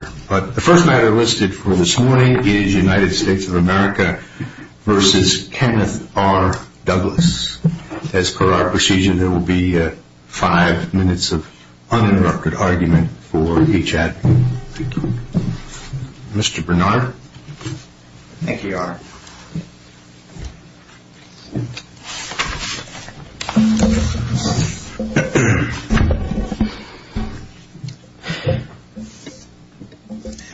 The first matter listed for this morning is United States of America v. Kenneth R.Douglas. As per our procedure, there will be five minutes of uninterrupted argument for each advocate. Mr. Bernard? Thank you, Your Honor.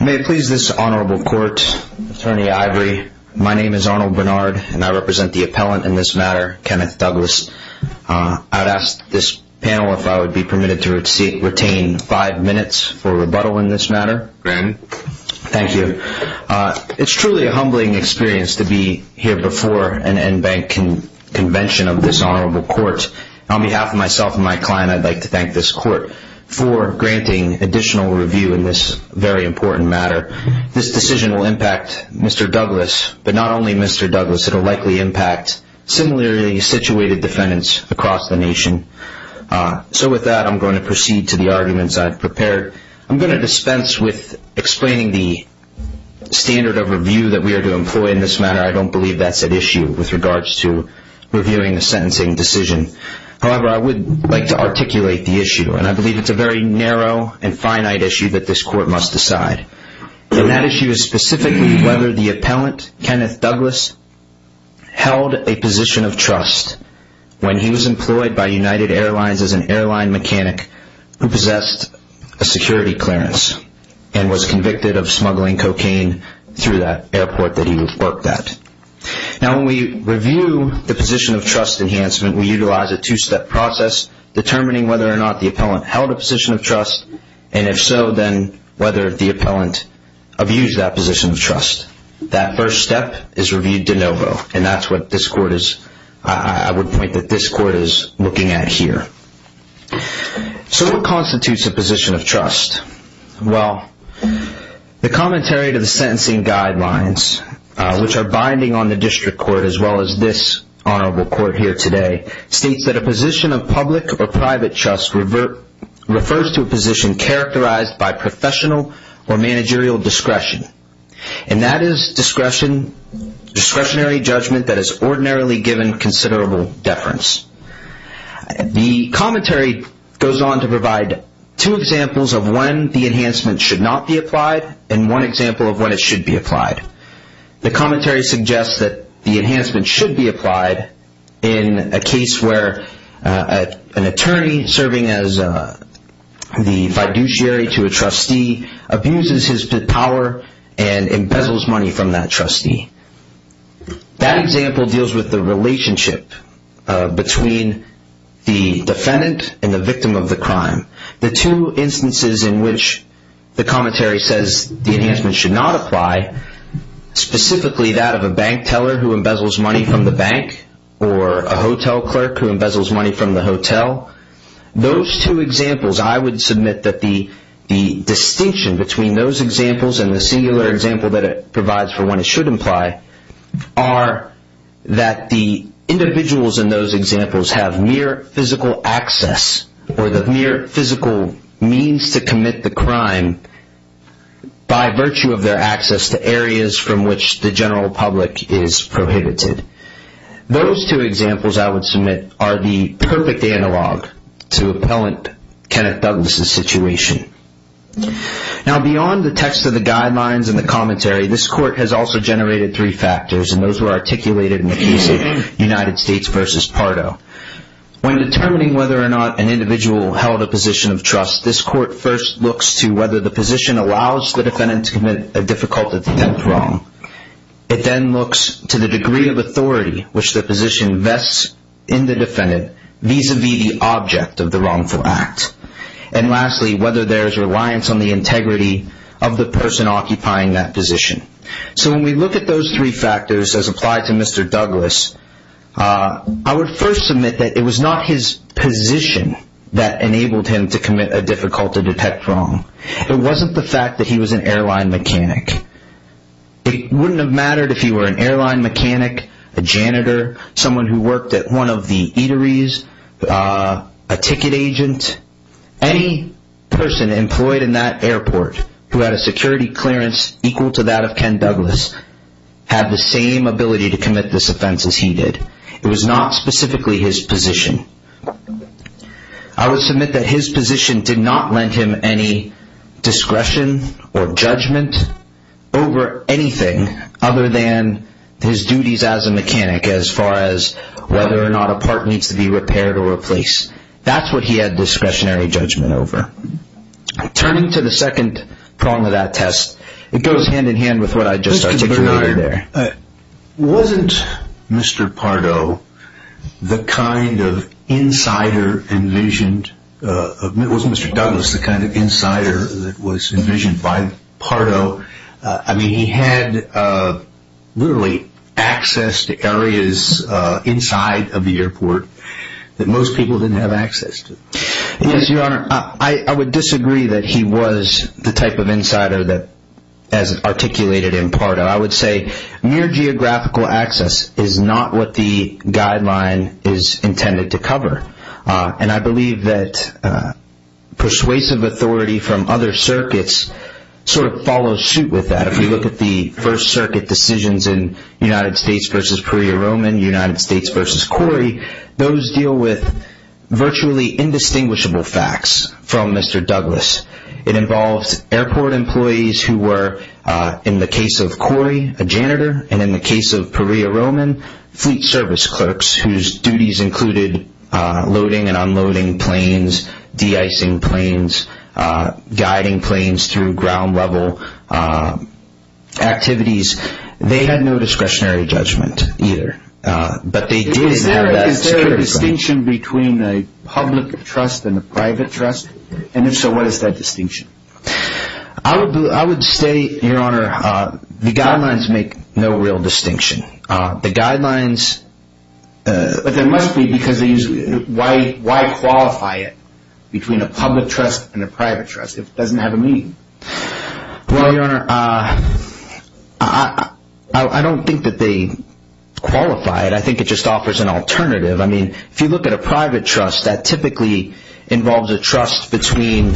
May it please this honorable court, Attorney Ivory, my name is Arnold Bernard and I represent the appellant in this matter, Kenneth Douglas. I would ask this panel if I would be permitted to retain five minutes for rebuttal in this matter. Granted. Thank you. It's truly a humbling experience to be here before an NBANC convention of this honorable court. On behalf of myself and my client, I'd like to thank this court for granting additional review in this very important matter. This decision will impact Mr. Douglas, but not only Mr. Douglas. It will likely impact similarly situated defendants across the nation. So with that, I'm going to proceed to the arguments I've prepared. I'm going to dispense with explaining the standard of review that we are to employ in this matter. I don't believe that's at issue with regards to reviewing a sentencing decision. However, I would like to articulate the issue, and I believe it's a very narrow and finite issue that this court must decide. And that issue is specifically whether the appellant, Kenneth Douglas, held a position of trust when he was employed by United Airlines as an airline mechanic who possessed a security clearance and was convicted of smuggling cocaine through that airport that he worked at. Now, when we review the position of trust enhancement, we utilize a two-step process determining whether or not the appellant held a position of trust, and if so, then whether the appellant abused that position of trust. That first step is reviewed de novo, and that's what this court is looking at here. So what constitutes a position of trust? Well, the commentary to the sentencing guidelines, which are binding on the district court as well as this honorable court here today, states that a position of public or private trust refers to a position characterized by professional or managerial discretion. And that is discretionary judgment that is ordinarily given considerable deference. The commentary goes on to provide two examples of when the enhancement should not be applied and one example of when it should be applied. The commentary suggests that the enhancement should be applied in a case where an attorney serving as the fiduciary to a trustee abuses his power and embezzles money from that trustee. That example deals with the relationship between the defendant and the victim of the crime. The two instances in which the commentary says the enhancement should not apply, specifically that of a bank teller who embezzles money from the bank or a hotel clerk who embezzles money from the hotel, those two examples I would submit that the distinction between those examples and the singular example that it provides for when it should apply are that the individuals in those examples have mere physical access or the mere physical means to commit the crime by virtue of their access to areas from which the general public is prohibited. Those two examples I would submit are the perfect analog to appellant Kenneth Douglas' situation. Now, beyond the text of the guidelines and the commentary, this court has also generated three factors and those were articulated in the case of United States v. Pardo. When determining whether or not an individual held a position of trust, this court first looks to whether the position allows the defendant to commit a difficult attempt wrong. It then looks to the degree of authority which the position vests in the defendant vis-à-vis the object of the wrongful act. And lastly, whether there is reliance on the integrity of the person occupying that position. So when we look at those three factors as applied to Mr. Douglas, I would first submit that it was not his position that enabled him to commit a difficult attempt wrong. It wasn't the fact that he was an airline mechanic. It wouldn't have mattered if he were an airline mechanic, a janitor, someone who worked at one of the eateries, a ticket agent. Any person employed in that airport who had a security clearance equal to that of Ken Douglas had the same ability to commit this offense as he did. It was not specifically his position. I would submit that his position did not lend him any discretion or judgment over anything other than his duties as a mechanic as far as whether or not a part needs to be repaired or replaced. That's what he had discretionary judgment over. Turning to the second prong of that test, it goes hand in hand with what I just articulated there. Wasn't Mr. Pardo the kind of insider envisioned – wasn't Mr. Douglas the kind of insider that was envisioned by Pardo? I mean, he had literally access to areas inside of the airport that most people didn't have access to. Yes, Your Honor. I would disagree that he was the type of insider that as articulated in Pardo. I would say near geographical access is not what the guideline is intended to cover. And I believe that persuasive authority from other circuits sort of follows suit with that. If we look at the First Circuit decisions in United States v. Puerto Rican, United States v. Corey, those deal with virtually indistinguishable facts from Mr. Douglas. It involves airport employees who were, in the case of Corey, a janitor, and in the case of Perea Roman, fleet service clerks whose duties included loading and unloading planes, de-icing planes, guiding planes through ground level activities. They had no discretionary judgment either, but they did have that security. Is there a distinction between a public trust and a private trust? And if so, what is that distinction? I would say, Your Honor, the guidelines make no real distinction. The guidelines... But there must be because they use... Why qualify it between a public trust and a private trust if it doesn't have a meaning? Well, Your Honor, I don't think that they qualify it. I think it just offers an alternative. I mean, if you look at a private trust, that typically involves a trust between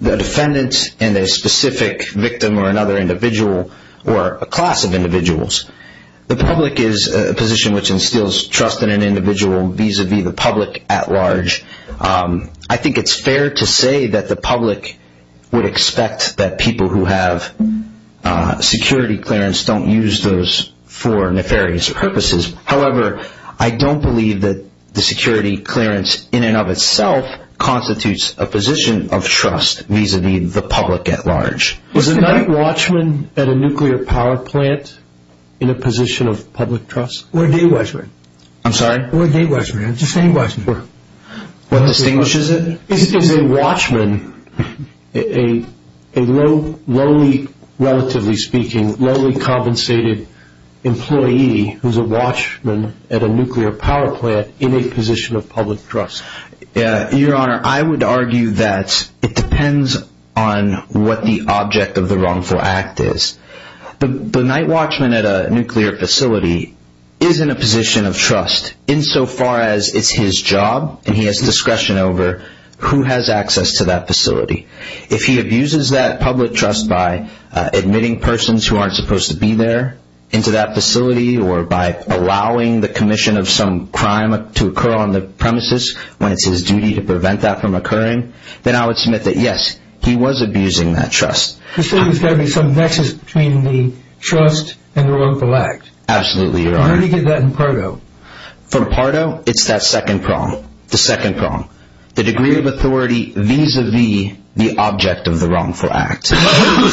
the defendant and a specific victim or another individual or a class of individuals. The public is a position which instills trust in an individual vis-a-vis the public at large. I think it's fair to say that the public would expect that people who have security clearance don't use those for nefarious purposes. However, I don't believe that the security clearance in and of itself constitutes a position of trust vis-a-vis the public at large. Is a night watchman at a nuclear power plant in a position of public trust? Or a day watchman. I'm sorry? Or a day watchman. Just a day watchman. What distinguishes it? Is a watchman a lowly, relatively speaking, lowly compensated employee who's a watchman at a nuclear power plant in a position of public trust? Your Honor, I would argue that it depends on what the object of the wrongful act is. The night watchman at a nuclear facility is in a position of trust insofar as it's his job and he has discretion over who has access to that facility. If he abuses that public trust by admitting persons who aren't supposed to be there into that facility or by allowing the commission of some crime to occur on the premises when it's his duty to prevent that from occurring, then I would submit that, yes, he was abusing that trust. So there's got to be some nexus between the trust and the wrongful act. Absolutely, Your Honor. And how do you get that in Pardo? For Pardo, it's that second prong. The second prong. The degree of authority vis-a-vis the object of the wrongful act. What's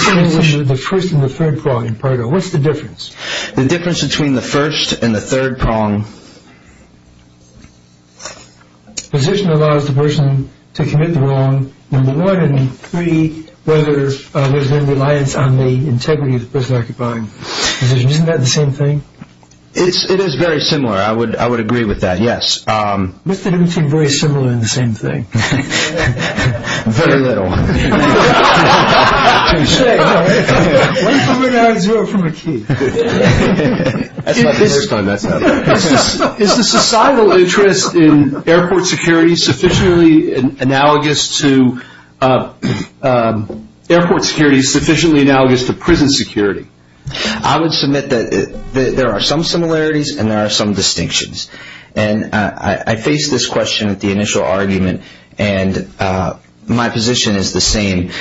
the difference between the first and the third prong in Pardo? What's the difference? The difference between the first and the third prong. Position allows the person to commit the wrong, number one, and three, whether there's been reliance on the integrity of the person occupying the position. Isn't that the same thing? It is very similar. I would agree with that, yes. Mr. Newton, very similar in the same thing. Very little. One from an ad, zero from a key. That's not the first time that's happened. Is the societal interest in airport security sufficiently analogous to prison security? I would submit that there are some similarities and there are some distinctions. And I faced this question at the initial argument, and my position is the same.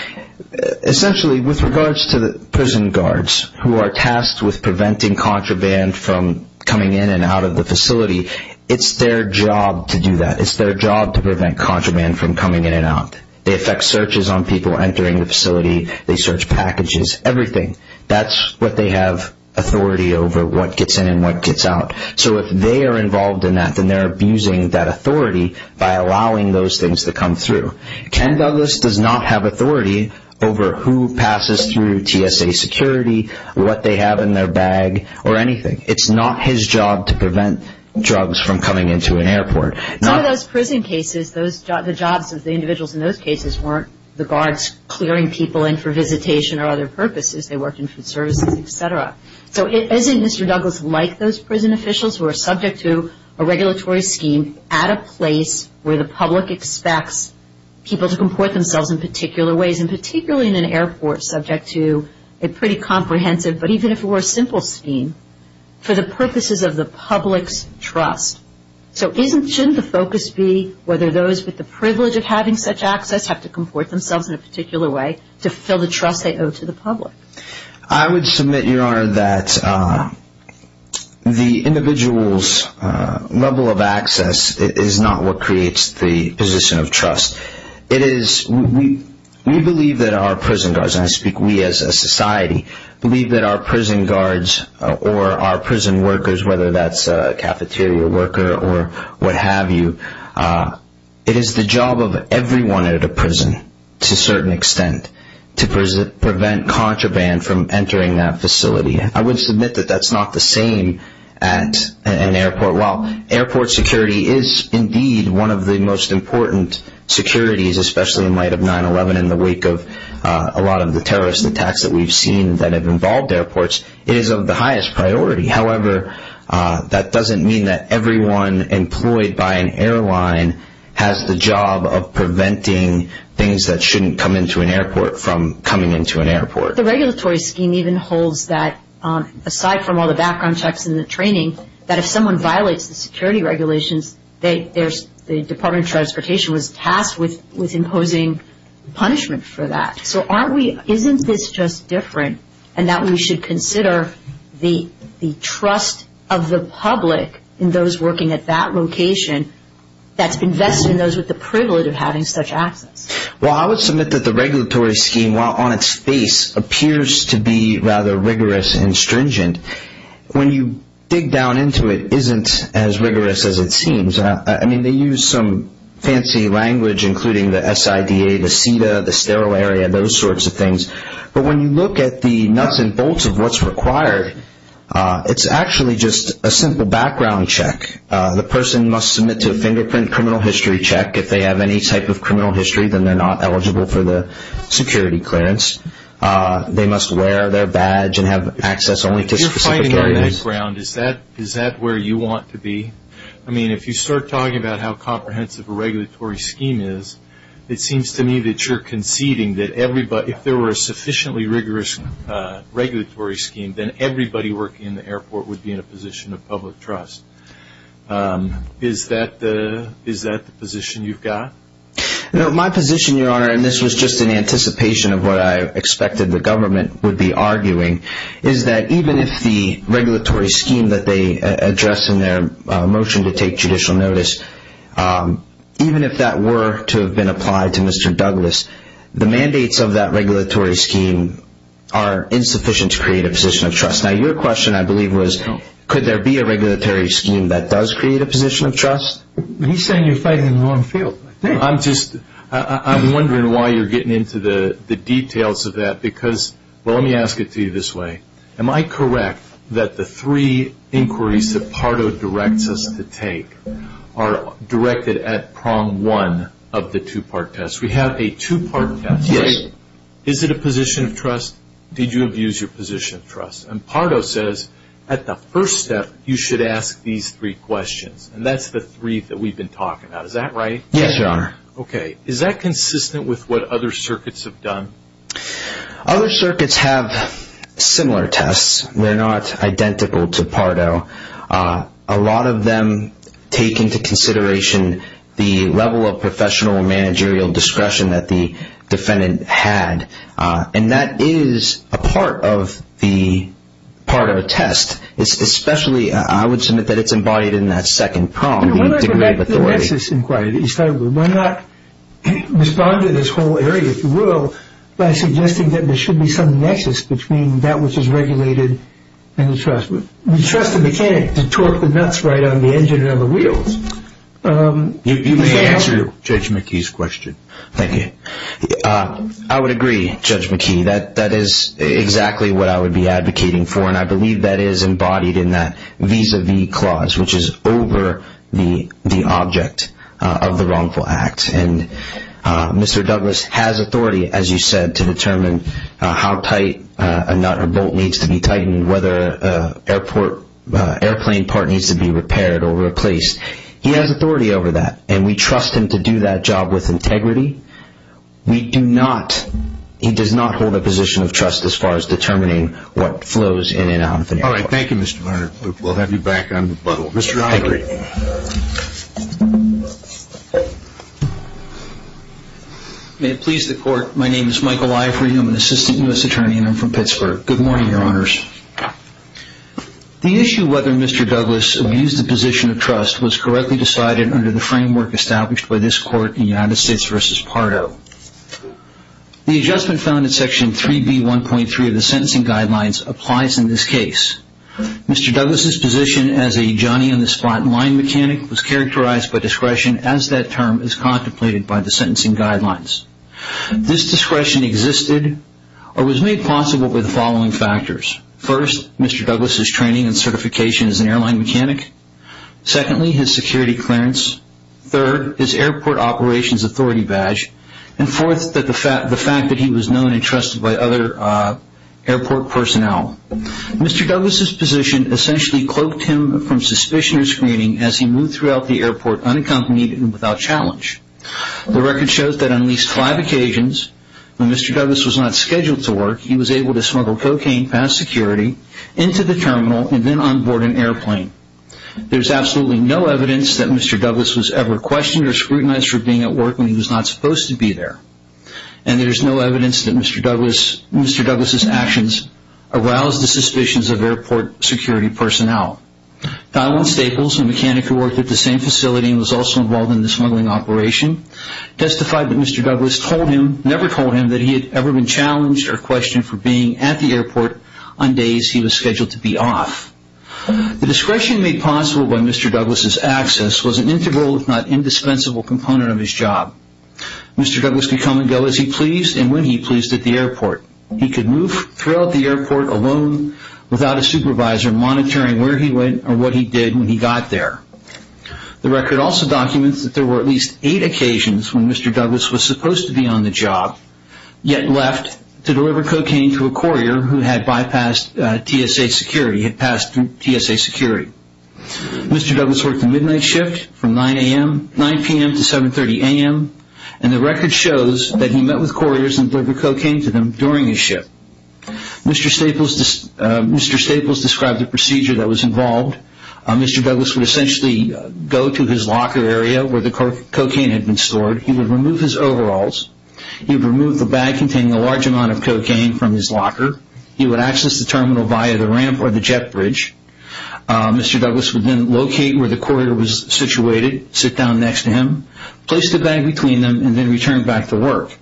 Essentially, with regards to the prison guards, who are tasked with preventing contraband from coming in and out of the facility, it's their job to do that. It's their job to prevent contraband from coming in and out. They effect searches on people entering the facility. They search packages, everything. That's what they have authority over, what gets in and what gets out. So if they are involved in that, then they're abusing that authority by allowing those things to come through. Ken Douglas does not have authority over who passes through TSA security, what they have in their bag, or anything. It's not his job to prevent drugs from coming into an airport. Some of those prison cases, the jobs of the individuals in those cases weren't the guards clearing people in for visitation or other purposes. They worked in food services, et cetera. So isn't Mr. Douglas like those prison officials who are subject to a regulatory scheme at a place where the public expects people to comport themselves in particular ways, and particularly in an airport subject to a pretty comprehensive, but even if it were a simple scheme, for the purposes of the public's trust. So shouldn't the focus be whether those with the privilege of having such access have to comport themselves in a particular way to fill the trust they owe to the public? I would submit, Your Honor, that the individual's level of access is not what creates the position of trust. We believe that our prison guards, and I speak we as a society, believe that our prison guards or our prison workers, whether that's a cafeteria worker or what have you, it is the job of everyone at a prison to a certain extent to prevent contraband from entering that facility. I would submit that that's not the same at an airport. While airport security is indeed one of the most important securities, especially in light of 9-11 in the wake of a lot of the terrorist attacks that we've seen that have involved airports, it is of the highest priority. However, that doesn't mean that everyone employed by an airline has the job of preventing things that shouldn't come into an airport from coming into an airport. The regulatory scheme even holds that, aside from all the background checks and the training, that if someone violates the security regulations, the Department of Transportation was tasked with imposing punishment for that. So isn't this just different in that we should consider the trust of the public and those working at that location that's invested in those with the privilege of having such access? Well, I would submit that the regulatory scheme, while on its face, appears to be rather rigorous and stringent, when you dig down into it isn't as rigorous as it seems. I mean, they use some fancy language, including the SIDA, the SIDA, the sterile area, those sorts of things. But when you look at the nuts and bolts of what's required, it's actually just a simple background check. The person must submit to a fingerprint criminal history check. If they have any type of criminal history, then they're not eligible for the security clearance. They must wear their badge and have access only to specific areas. Is that where you want to be? I mean, if you start talking about how comprehensive a regulatory scheme is, it seems to me that you're conceding that if there were a sufficiently rigorous regulatory scheme, then everybody working in the airport would be in a position of public trust. Is that the position you've got? My position, Your Honor, and this was just in anticipation of what I expected the government would be arguing, is that even if the regulatory scheme that they address in their motion to take judicial notice, even if that were to have been applied to Mr. Douglas, the mandates of that regulatory scheme are insufficient to create a position of trust. Now, your question, I believe, was could there be a regulatory scheme that does create a position of trust? He's saying you're fighting in the wrong field. I'm wondering why you're getting into the details of that because, well, let me ask it to you this way. Am I correct that the three inquiries that Pardo directs us to take are directed at prong one of the two-part test? We have a two-part test. Yes. Is it a position of trust? Did you abuse your position of trust? And Pardo says at the first step, you should ask these three questions, and that's the three that we've been talking about. Is that right? Yes, Your Honor. Okay. Is that consistent with what other circuits have done? Other circuits have similar tests. They're not identical to Pardo. A lot of them take into consideration the level of professional managerial discretion that the defendant had, and that is a part of a test, especially I would submit that it's embodied in that second prong, the degree of authority. Well, that's his inquiry. Why not respond to this whole area, if you will, by suggesting that there should be some nexus between that which is regulated and the trust? We trust the mechanic to torque the nuts right on the engine and on the wheels. You may answer Judge McKee's question. Thank you. I would agree, Judge McKee. That is exactly what I would be advocating for, and I believe that is embodied in that vis-a-vis clause, which is over the object of the wrongful act. And Mr. Douglas has authority, as you said, to determine how tight a nut or bolt needs to be tightened, whether an airplane part needs to be repaired or replaced. He has authority over that, and we trust him to do that job with integrity. We do not. He does not hold a position of trust as far as determining what flows in and out of an airplane. All right. Thank you, Mr. Varner. We'll have you back on rebuttal. Mr. Ivory. May it please the Court. My name is Michael Ivory. I'm an assistant U.S. attorney, and I'm from Pittsburgh. Good morning, Your Honors. The issue of whether Mr. Douglas abused the position of trust was correctly decided under the framework established by this Court in United States v. Pardo. The adjustment found in Section 3B.1.3 of the Sentencing Guidelines applies in this case. Mr. Douglas's position as a Johnny-on-the-spot line mechanic was characterized by discretion as that term is contemplated by the Sentencing Guidelines. This discretion existed or was made possible by the following factors. First, Mr. Douglas's training and certification as an airline mechanic. Secondly, his security clearance. Third, his airport operations authority badge. And fourth, the fact that he was known and trusted by other airport personnel. Mr. Douglas's position essentially cloaked him from suspicion or screening as he moved throughout the airport unaccompanied and without challenge. The record shows that on at least five occasions when Mr. Douglas was not scheduled to work, he was able to smuggle cocaine past security into the terminal and then onboard an airplane. There's absolutely no evidence that Mr. Douglas was ever questioned or scrutinized for being at work when he was not supposed to be there. And there's no evidence that Mr. Douglas's actions aroused the suspicions of airport security personnel. Donald Staples, a mechanic who worked at the same facility and was also involved in the smuggling operation, testified that Mr. Douglas never told him that he had ever been challenged or questioned for being at the airport on days he was scheduled to be off. The discretion made possible by Mr. Douglas's access was an integral, if not indispensable, component of his job. Mr. Douglas could come and go as he pleased and when he pleased at the airport. He could move throughout the airport alone without a supervisor monitoring where he went or what he did when he got there. The record also documents that there were at least eight occasions when Mr. Douglas was supposed to be on the job yet left to deliver cocaine to a courier who had bypassed TSA security, had passed through TSA security. Mr. Douglas worked a midnight shift from 9 p.m. to 7.30 a.m. and the record shows that he met with couriers and delivered cocaine to them during his shift. Mr. Staples described the procedure that was involved. Mr. Douglas would essentially go to his locker area where the cocaine had been stored. He would remove his overalls. He would remove the bag containing a large amount of cocaine from his locker. He would access the terminal via the ramp or the jet bridge. Mr. Douglas would then locate where the courier was situated, sit down next to him, place the bag between them and then return back to work.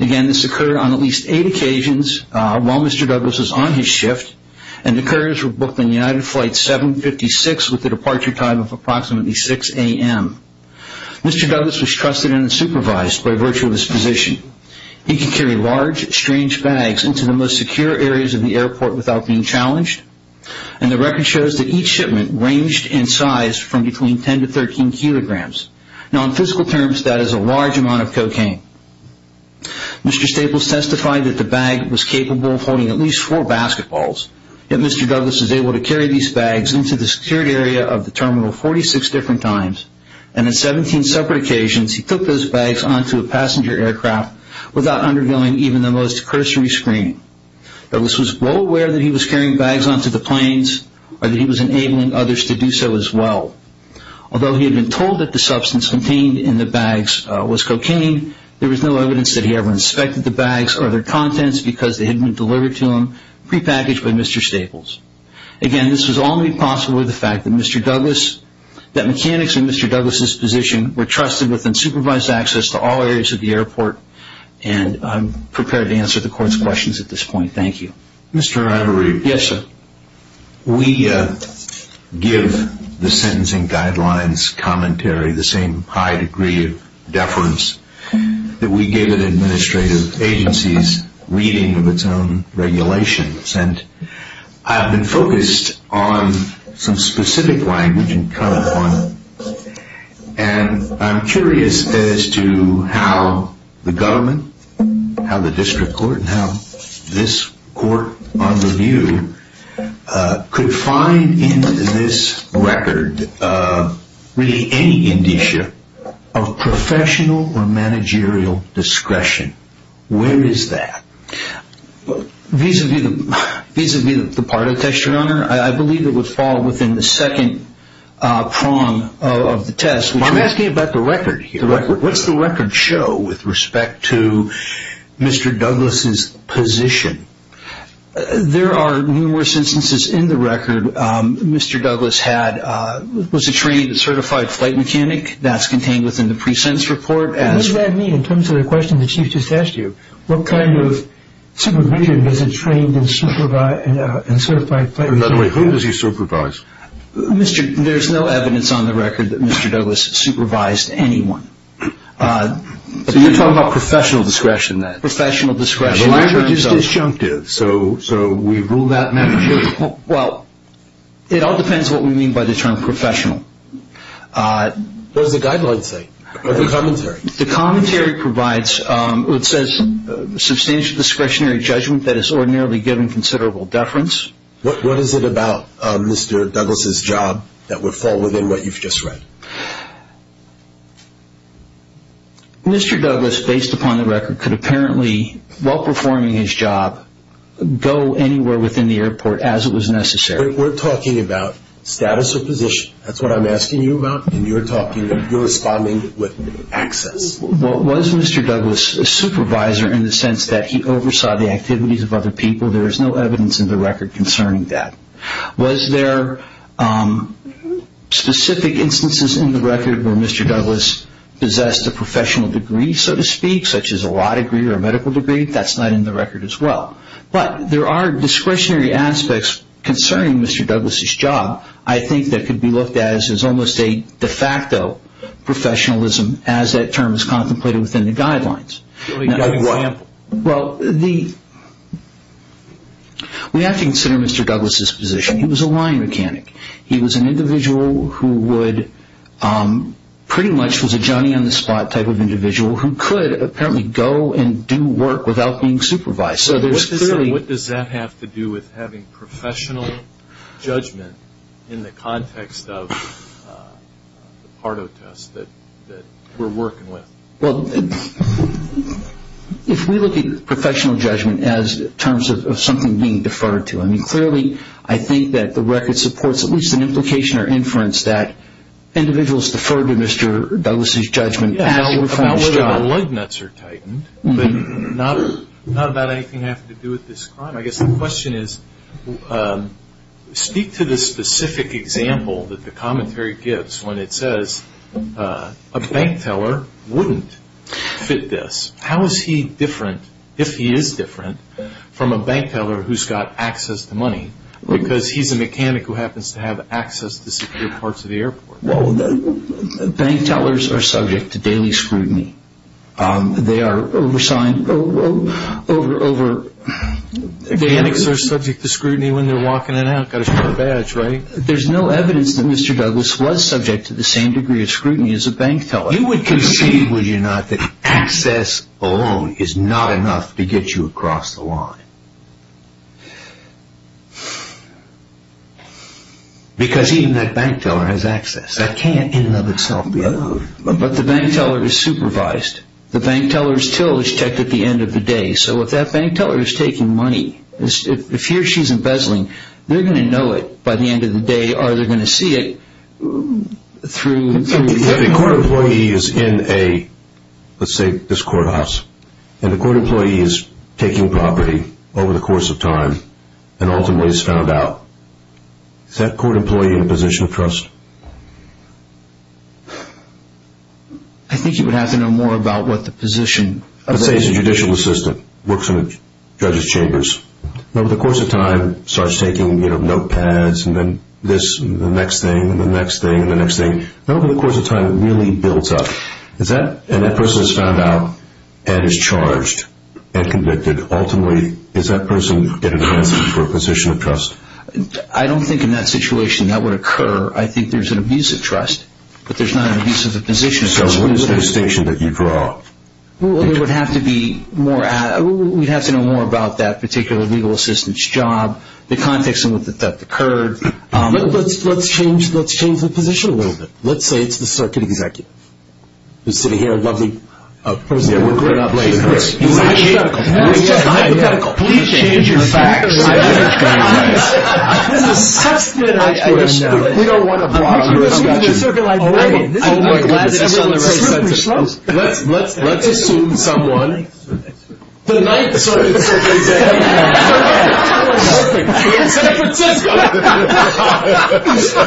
Again, this occurred on at least eight occasions while Mr. Douglas was on his shift and the couriers were booked on United Flight 756 with a departure time of approximately 6 a.m. Mr. Douglas was trusted and supervised by virtue of his position. He could carry large, strange bags into the most secure areas of the airport without being challenged and the record shows that each shipment ranged in size from between 10 to 13 kilograms. Now, in physical terms, that is a large amount of cocaine. Mr. Staples testified that the bag was capable of holding at least four basketballs, yet Mr. Douglas was able to carry these bags into the secured area of the terminal 46 different times and on 17 separate occasions he took those bags onto a passenger aircraft without undergoing even the most cursory screening. Douglas was well aware that he was carrying bags onto the planes or that he was enabling others to do so as well. Although he had been told that the substance contained in the bags was cocaine, there was no evidence that he ever inspected the bags or their contents because they had been delivered to him prepackaged by Mr. Staples. Again, this was all made possible with the fact that mechanics in Mr. Douglas' position were trusted with and supervised access to all areas of the airport and I'm prepared to answer the court's questions at this point. Thank you. Mr. Ivory. Yes, sir. We give the sentencing guidelines commentary the same high degree of deference that we give an administrative agency's reading of its own regulations and I've been focused on some specific language and cut upon and I'm curious as to how the government, how the district court, and how this court on review could find in this record really any indicia of professional or managerial discretion. Where is that? Vis-a-vis the part of the test, your honor, I believe it would fall within the second prong of the test. I'm asking about the record here. What's the record show with respect to Mr. Douglas' position? There are numerous instances in the record. Mr. Douglas was a trained and certified flight mechanic. That's contained within the pre-sentence report. What does that mean in terms of the question the chief just asked you? What kind of supervision does a trained and certified flight mechanic have? By the way, who does he supervise? There's no evidence on the record that Mr. Douglas supervised anyone. So you're talking about professional discretion then? Professional discretion. The language is disjunctive, so we rule that matter. Well, it all depends on what we mean by the term professional. What does the guideline say? The commentary. The commentary provides, it says, substantial discretionary judgment that is ordinarily given considerable deference. What is it about Mr. Douglas' job that would fall within what you've just read? Mr. Douglas, based upon the record, could apparently, while performing his job, go anywhere within the airport as it was necessary. We're talking about status or position. That's what I'm asking you about, and you're responding with access. Was Mr. Douglas a supervisor in the sense that he oversaw the activities of other people? There is no evidence in the record concerning that. Was there specific instances in the record where Mr. Douglas possessed a professional degree, so to speak, such as a law degree or a medical degree? That's not in the record as well. But there are discretionary aspects concerning Mr. Douglas' job, I think, that could be looked at as almost a de facto professionalism as that term is contemplated within the guidelines. Give me an example. Well, we have to consider Mr. Douglas' position. He was a line mechanic. He was an individual who pretty much was a Johnny-on-the-spot type of individual who could apparently go and do work without being supervised. What does that have to do with having professional judgment in the context of the Pardo test that we're working with? Well, if we look at professional judgment as in terms of something being deferred to, I mean, clearly I think that the record supports at least an implication or inference that individuals deferred to Mr. Douglas' judgment actually performed his job. About whether the lug nuts are tightened, but not about anything having to do with this crime. I guess the question is, speak to the specific example that the commentary gives when it says a bank teller wouldn't fit this. How is he different, if he is different, from a bank teller who's got access to money? Because he's a mechanic who happens to have access to secure parts of the airport. Well, bank tellers are subject to daily scrutiny. They are over-signed, over- Mechanics are subject to scrutiny when they're walking in and out. Got a short badge, right? There's no evidence that Mr. Douglas was subject to the same degree of scrutiny as a bank teller. You would concede, would you not, that access alone is not enough to get you across the line? Because even that bank teller has access. That can't in and of itself be enough. But the bank teller is supervised. The bank teller's till is checked at the end of the day. So if that bank teller is taking money, if he or she's embezzling, they're going to know it by the end of the day, or they're going to see it through- If a court employee is in a, let's say this courthouse, and a court employee is taking property over the course of time, and ultimately is found out, is that court employee in a position of trust? I think you would have to know more about what the position of- Let's say he's a judicial assistant, works in a judge's chambers. Over the course of time, starts taking notepads, and then this, and the next thing, and the next thing, and the next thing. Over the course of time, it really builds up. And that person is found out, and is charged, and convicted. Ultimately, is that person in a position of trust? I don't think in that situation that would occur. I think there's an abuse of trust, but there's not an abuse of the position of trust. So what is the distinction that you draw? We would have to know more about that particular legal assistant's job, the context in which the theft occurred. Let's change the position a little bit. Let's say it's the circuit executive. Who's sitting here, a lovely person. We're good. We're not blaming her. It's hypothetical. It's just hypothetical. Please change your facts. Please. This is such good information. We don't want to block you. Oh, my goodness. Let's assume someone. The Ninth Circuit's executive.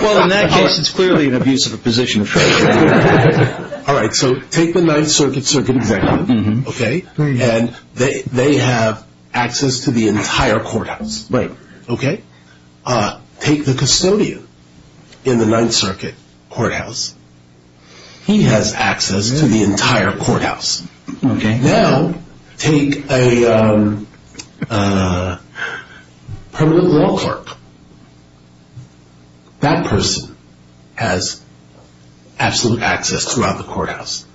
Well, in that case, it's clearly an abuse of a position of trust. All right, so take the Ninth Circuit's executive. And they have access to the entire courthouse. Right. Okay? Take the custodian in the Ninth Circuit courthouse. He has access to the entire courthouse. Okay. Now take a permanent law clerk. That person has absolute access throughout the courthouse.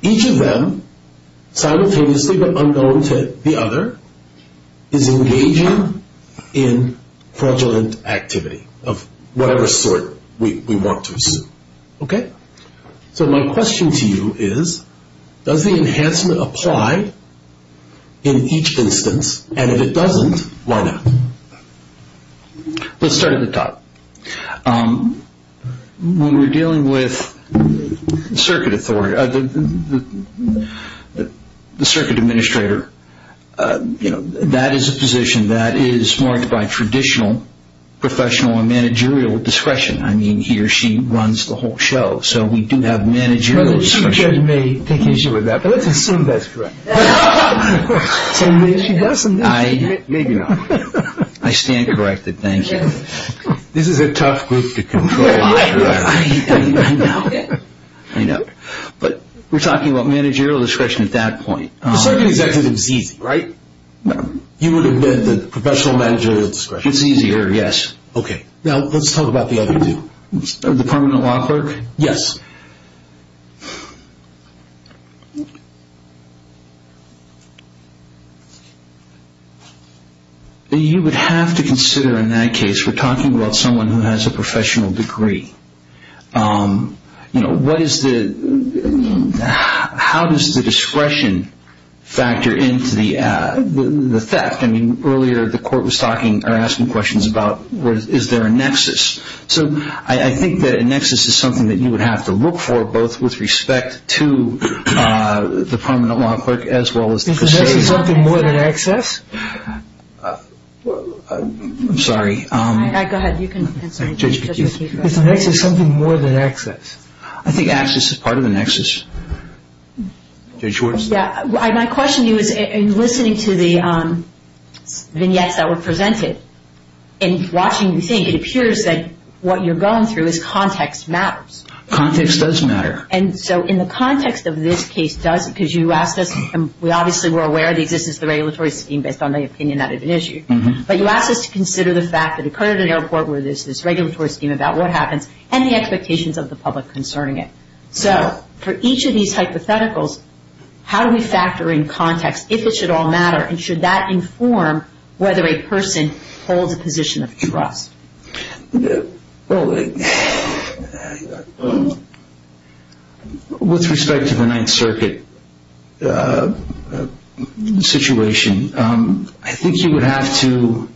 Each of them, simultaneously but unknown to the other, is engaging in fraudulent activity of whatever sort we want to assume. Okay? So my question to you is, does the enhancement apply in each instance? And if it doesn't, why not? Let's start at the top. When we're dealing with the circuit administrator, that is a position that is marked by traditional professional and managerial discretion. I mean, he or she runs the whole show, so we do have managerial discretion. Some judges may take issue with that, but let's assume that's correct. So maybe she doesn't. Maybe not. I stand corrected. Thank you. This is a tough group to control. I know. I know. But we're talking about managerial discretion at that point. The circuit executive is easy, right? You would have been the professional managerial discretion. It's easier, yes. Okay. Now let's talk about the other two. The permanent law clerk? Yes. You would have to consider, in that case, we're talking about someone who has a professional degree. You know, what is the – how does the discretion factor into the theft? I mean, earlier the court was talking or asking questions about is there a nexus? So I think that a nexus is something that you would have to look at. You would have to look for both with respect to the permanent law clerk as well as the procedure. Is the nexus something more than access? I'm sorry. Go ahead. You can answer. Is the nexus something more than access? I think access is part of the nexus. Judge Schwartz? Yeah. My question to you is, in listening to the vignettes that were presented and watching you think, it appears that what you're going through is context matters. Context does matter. And so in the context of this case does, because you asked us, and we obviously were aware of the existence of the regulatory scheme based on the opinion that had been issued. But you asked us to consider the fact that it occurred at an airport where there's this regulatory scheme about what happens and the expectations of the public concerning it. So for each of these hypotheticals, how do we factor in context, if it should all matter, and should that inform whether a person holds a position of trust? Well, with respect to the Ninth Circuit situation, I think you would have to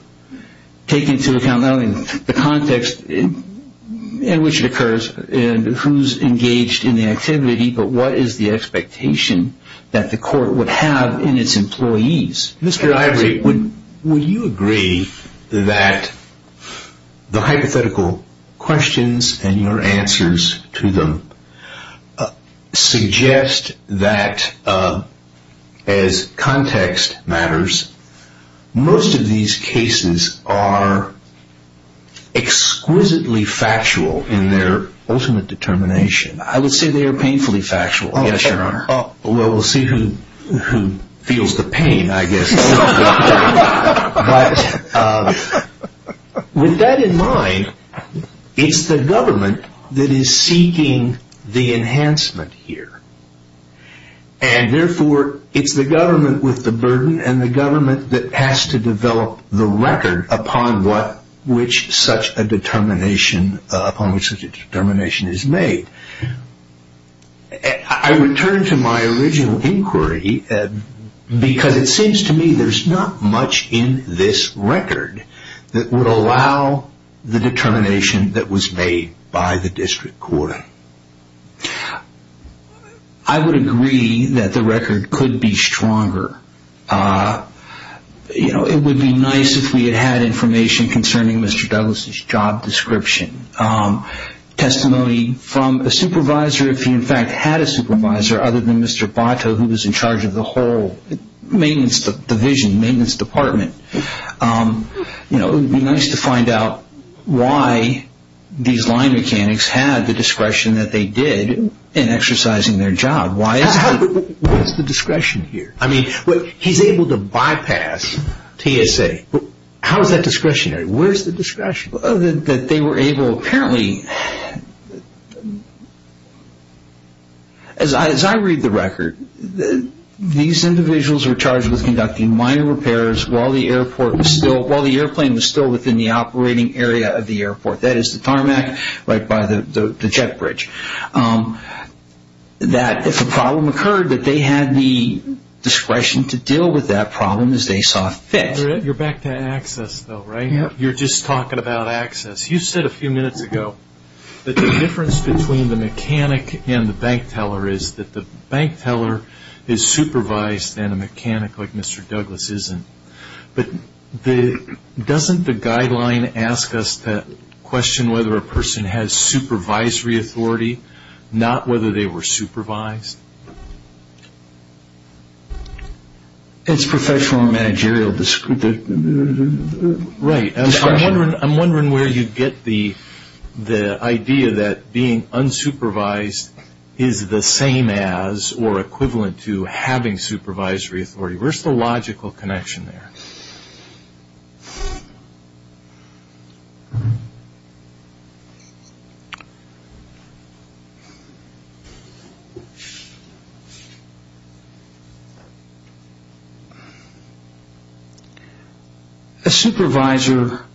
take into account not only the context in which it occurs and who's engaged in the activity, but what is the expectation that the court would have in its employees. Mr. Ivory, would you agree that the hypothetical questions and your answers to them suggest that, as context matters, most of these cases are exquisitely factual in their ultimate determination? I would say they are painfully factual, yes, Your Honor. Well, we'll see who feels the pain, I guess. But with that in mind, it's the government that is seeking the enhancement here. And therefore, it's the government with the burden and the government that has to develop the record upon which such a determination is made. I return to my original inquiry because it seems to me there's not much in this record that would allow the determination that was made by the district court. I would agree that the record could be stronger. It would be nice if we had had information concerning Mr. Douglas' job description, testimony from a supervisor, if he in fact had a supervisor other than Mr. Botto, who was in charge of the whole maintenance division, maintenance department. It would be nice to find out why these line mechanics had the discretion that they did in exercising their job. What's the discretion here? He's able to bypass TSA. How is that discretionary? Where's the discretion? That they were able, apparently, as I read the record, these individuals were charged with conducting minor repairs while the airplane was still within the operating area of the airport. That is the tarmac right by the jet bridge. That if a problem occurred, that they had the discretion to deal with that problem as they saw fit. You're back to access, though, right? You're just talking about access. You said a few minutes ago that the difference between the mechanic and the bank teller is that the bank teller is supervised and a mechanic like Mr. Douglas isn't. But doesn't the guideline ask us to question whether a person has supervisory authority, not whether they were supervised? It's professional and managerial discretion. Right. I'm wondering where you get the idea that being unsupervised is the same as or equivalent to having supervisory authority. Where's the logical connection there? A supervisor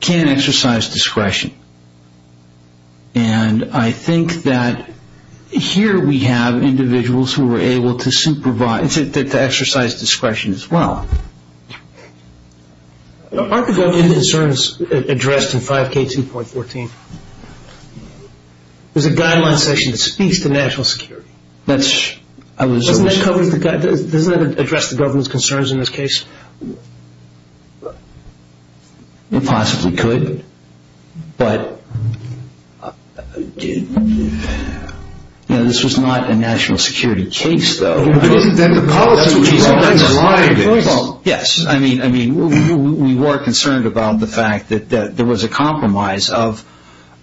can exercise discretion. And I think that here we have individuals who are able to exercise discretion as well. Aren't the government concerns addressed in 5K2.14? There's a guideline section that speaks to national security. Doesn't that address the government's concerns in this case? It possibly could. But this was not a national security case, though. Yes, I mean, we were concerned about the fact that there was a compromise of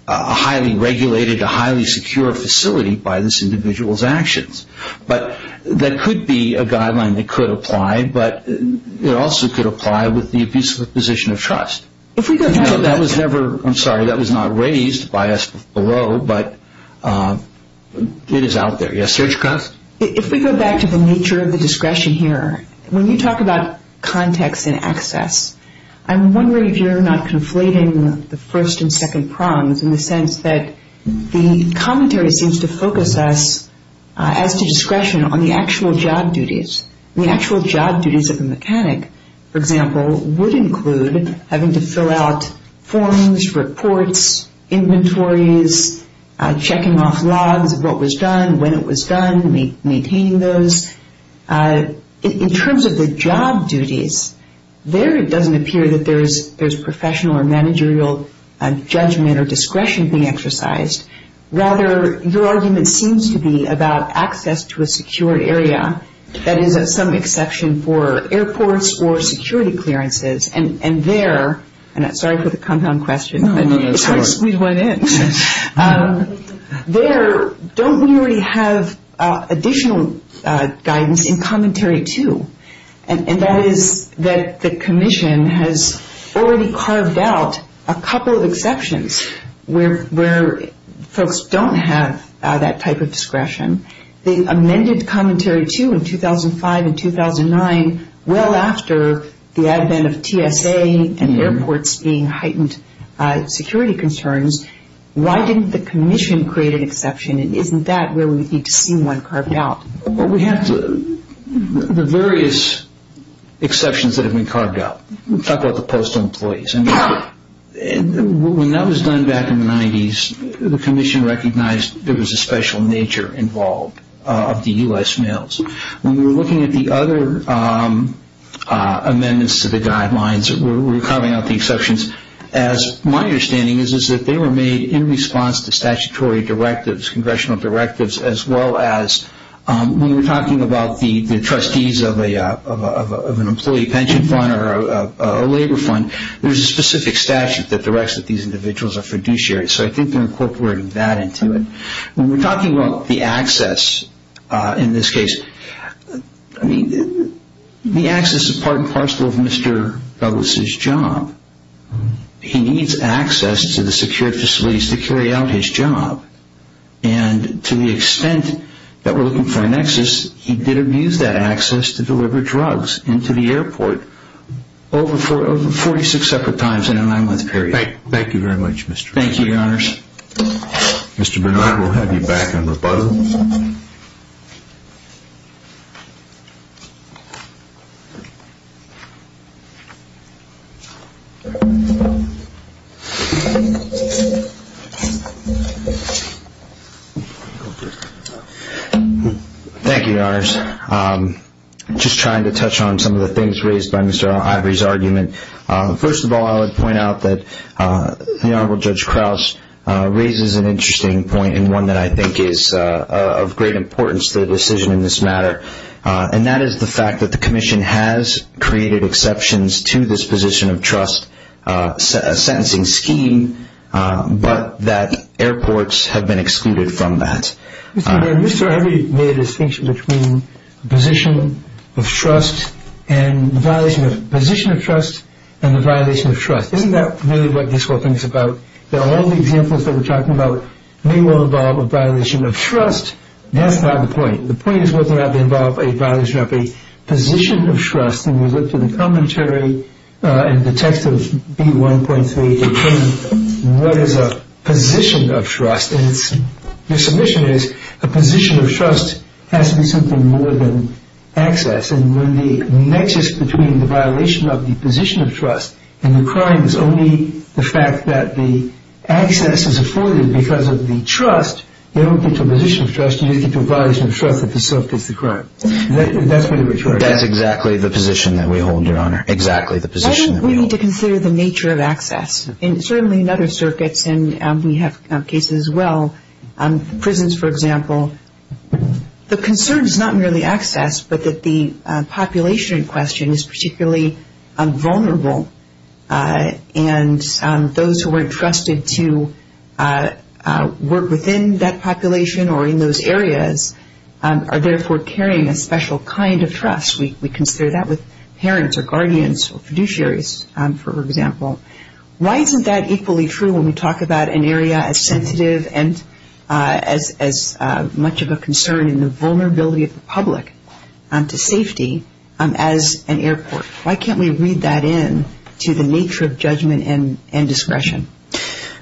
a highly regulated, a highly secure facility by this individual's actions. But there could be a guideline that could apply, but it also could apply with the position of trust. If we go back to the nature of the discretion here, when you talk about context and access, I'm wondering if you're not conflating the first and second prongs in the sense that the commentary seems to focus us, as to discretion, on the actual job duties. The actual job duties of a mechanic, for example, would include having to fill out forms, reports, inventories, checking off logs of what was done, when it was done, maintaining those. In terms of the job duties, there it doesn't appear that there's professional or managerial judgment or discretion being exercised. Rather, your argument seems to be about access to a secure area, that is of some exception for airports or security clearances. And there, and I'm sorry for the compound question, but it's hard to squeeze one in. There, don't we already have additional guidance in commentary too? And that is that the Commission has already carved out a couple of exceptions where folks don't have that type of discretion. They amended commentary too in 2005 and 2009, well after the advent of TSA and airports being heightened security concerns. Why didn't the Commission create an exception, and isn't that where we need to see one carved out? We have the various exceptions that have been carved out. We talked about the postal employees. When that was done back in the 90s, the Commission recognized there was a special nature involved of the U.S. mails. When we were looking at the other amendments to the guidelines, we were carving out the exceptions, as my understanding is that they were made in response to statutory directives, Congressional directives, as well as when we're talking about the trustees of an employee pension fund or a labor fund, there's a specific statute that directs that these individuals are fiduciary. So I think they're incorporating that into it. When we're talking about the access in this case, I mean the access is part and parcel of Mr. Douglas' job. He needs access to the secured facilities to carry out his job. And to the extent that we're looking for an access, he did abuse that access to deliver drugs into the airport over 46 separate times in a nine-month period. Thank you very much, Mr. Bernard. Thank you, Your Honors. Mr. Bernard, we'll have you back in rebuttal. Thank you, Your Honors. Just trying to touch on some of the things raised by Mr. Ivory's argument. First of all, I would point out that the Honorable Judge Crouse raises an interesting point and one that I think is of great importance to the decision in this matter, and that is the fact that the Commission has created exceptions to this position of trust sentencing scheme, but that airports have been excluded from that. Mr. Bernard, Mr. Ivory made a distinction between the position of trust and the violation of trust. Isn't that really what this court thinks about, that all the examples that we're talking about may well involve a violation of trust? That's not the point. The point is whether or not they involve a violation of a position of trust. We looked at the commentary in the text of B.1.3. What is a position of trust? The submission is a position of trust has to be something more than access, and when the nexus between the violation of the position of trust and the crime is only the fact that the access is afforded because of the trust, you don't get to a position of trust. You just get to a violation of trust that facilitates the crime. That's what the retort is. That is exactly the position that we hold, Your Honor, exactly the position that we hold. Why don't we need to consider the nature of access? Certainly in other circuits, and we have cases as well, prisons, for example, the concern is not merely access, but that the population in question is particularly vulnerable, and those who aren't trusted to work within that population or in those areas are therefore carrying a special kind of trust. We consider that with parents or guardians or fiduciaries, for example. Why isn't that equally true when we talk about an area as sensitive and as much of a concern in the vulnerability of the public to safety as an airport? Why can't we read that in to the nature of judgment and discretion?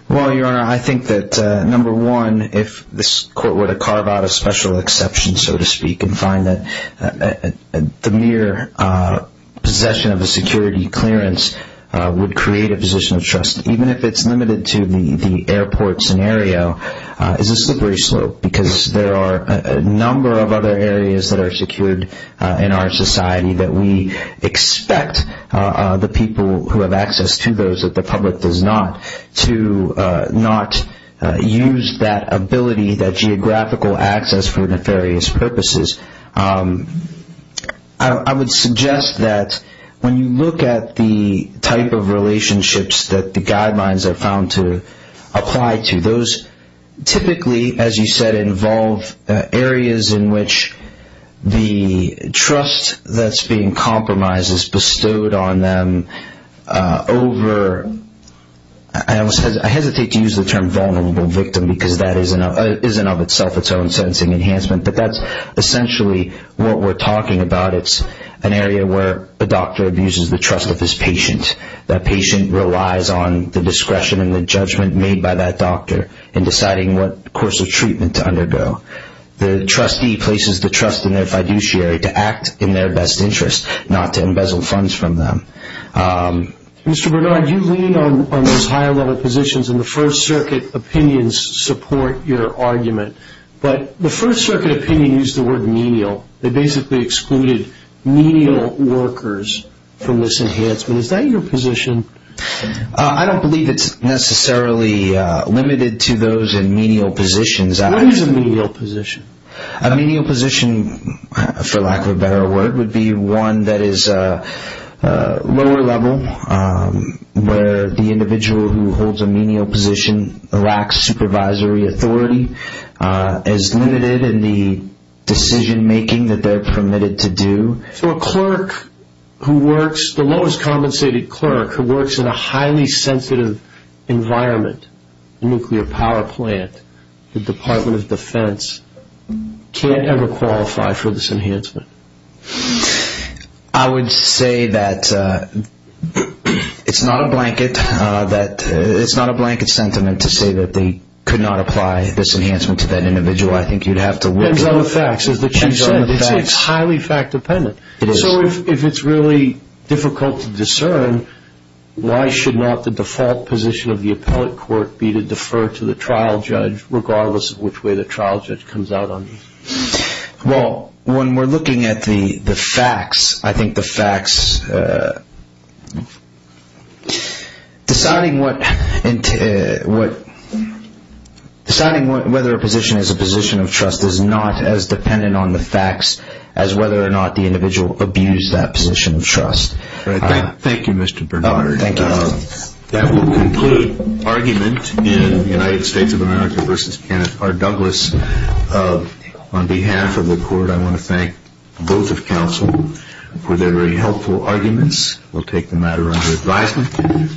Well, Your Honor, I think that, number one, if this court were to carve out a special exception, so to speak, and find that the mere possession of a security clearance would create a position of trust, even if it's limited to the airport scenario, it's a slippery slope because there are a number of other areas that are secured in our society that we expect the people who have access to those that the public does not to not use that ability, that geographical access, for nefarious purposes. I would suggest that when you look at the type of relationships that the guidelines are found to apply to, those typically, as you said, involve areas in which the trust that's being compromised is bestowed on them over, I hesitate to use the term vulnerable victim because that isn't of itself its own sensing enhancement, but that's essentially what we're talking about. It's an area where a doctor abuses the trust of his patient. That patient relies on the discretion and the judgment made by that doctor in deciding what course of treatment to undergo. The trustee places the trust in their fiduciary to act in their best interest, not to embezzle funds from them. Mr. Bernard, you lean on those higher-level positions, and the First Circuit opinions support your argument, but the First Circuit opinion used the word menial. They basically excluded menial workers from this enhancement. Is that your position? I don't believe it's necessarily limited to those in menial positions. What is a menial position? A menial position, for lack of a better word, would be one that is lower-level, where the individual who holds a menial position lacks supervisory authority, is limited in the decision-making that they're permitted to do. So a clerk who works, the lowest-compensated clerk, who works in a highly sensitive environment, nuclear power plant, the Department of Defense, can't ever qualify for this enhancement? I would say that it's not a blanket sentiment to say that they could not apply this enhancement to that individual. I think you'd have to look at the facts. It's highly fact-dependent. So if it's really difficult to discern, why should not the default position of the appellate court be to defer to the trial judge, regardless of which way the trial judge comes out on this? Well, when we're looking at the facts, I think the facts, deciding whether a position is a position of trust is not as dependent on the facts as whether or not the individual abused that position of trust. Thank you, Mr. Bernhard. Thank you. That will conclude argument in United States of America v. Kenneth R. Douglas. On behalf of the court, I want to thank both of counsel for their very helpful and thoughtful arguments. We'll take the matter under advisement.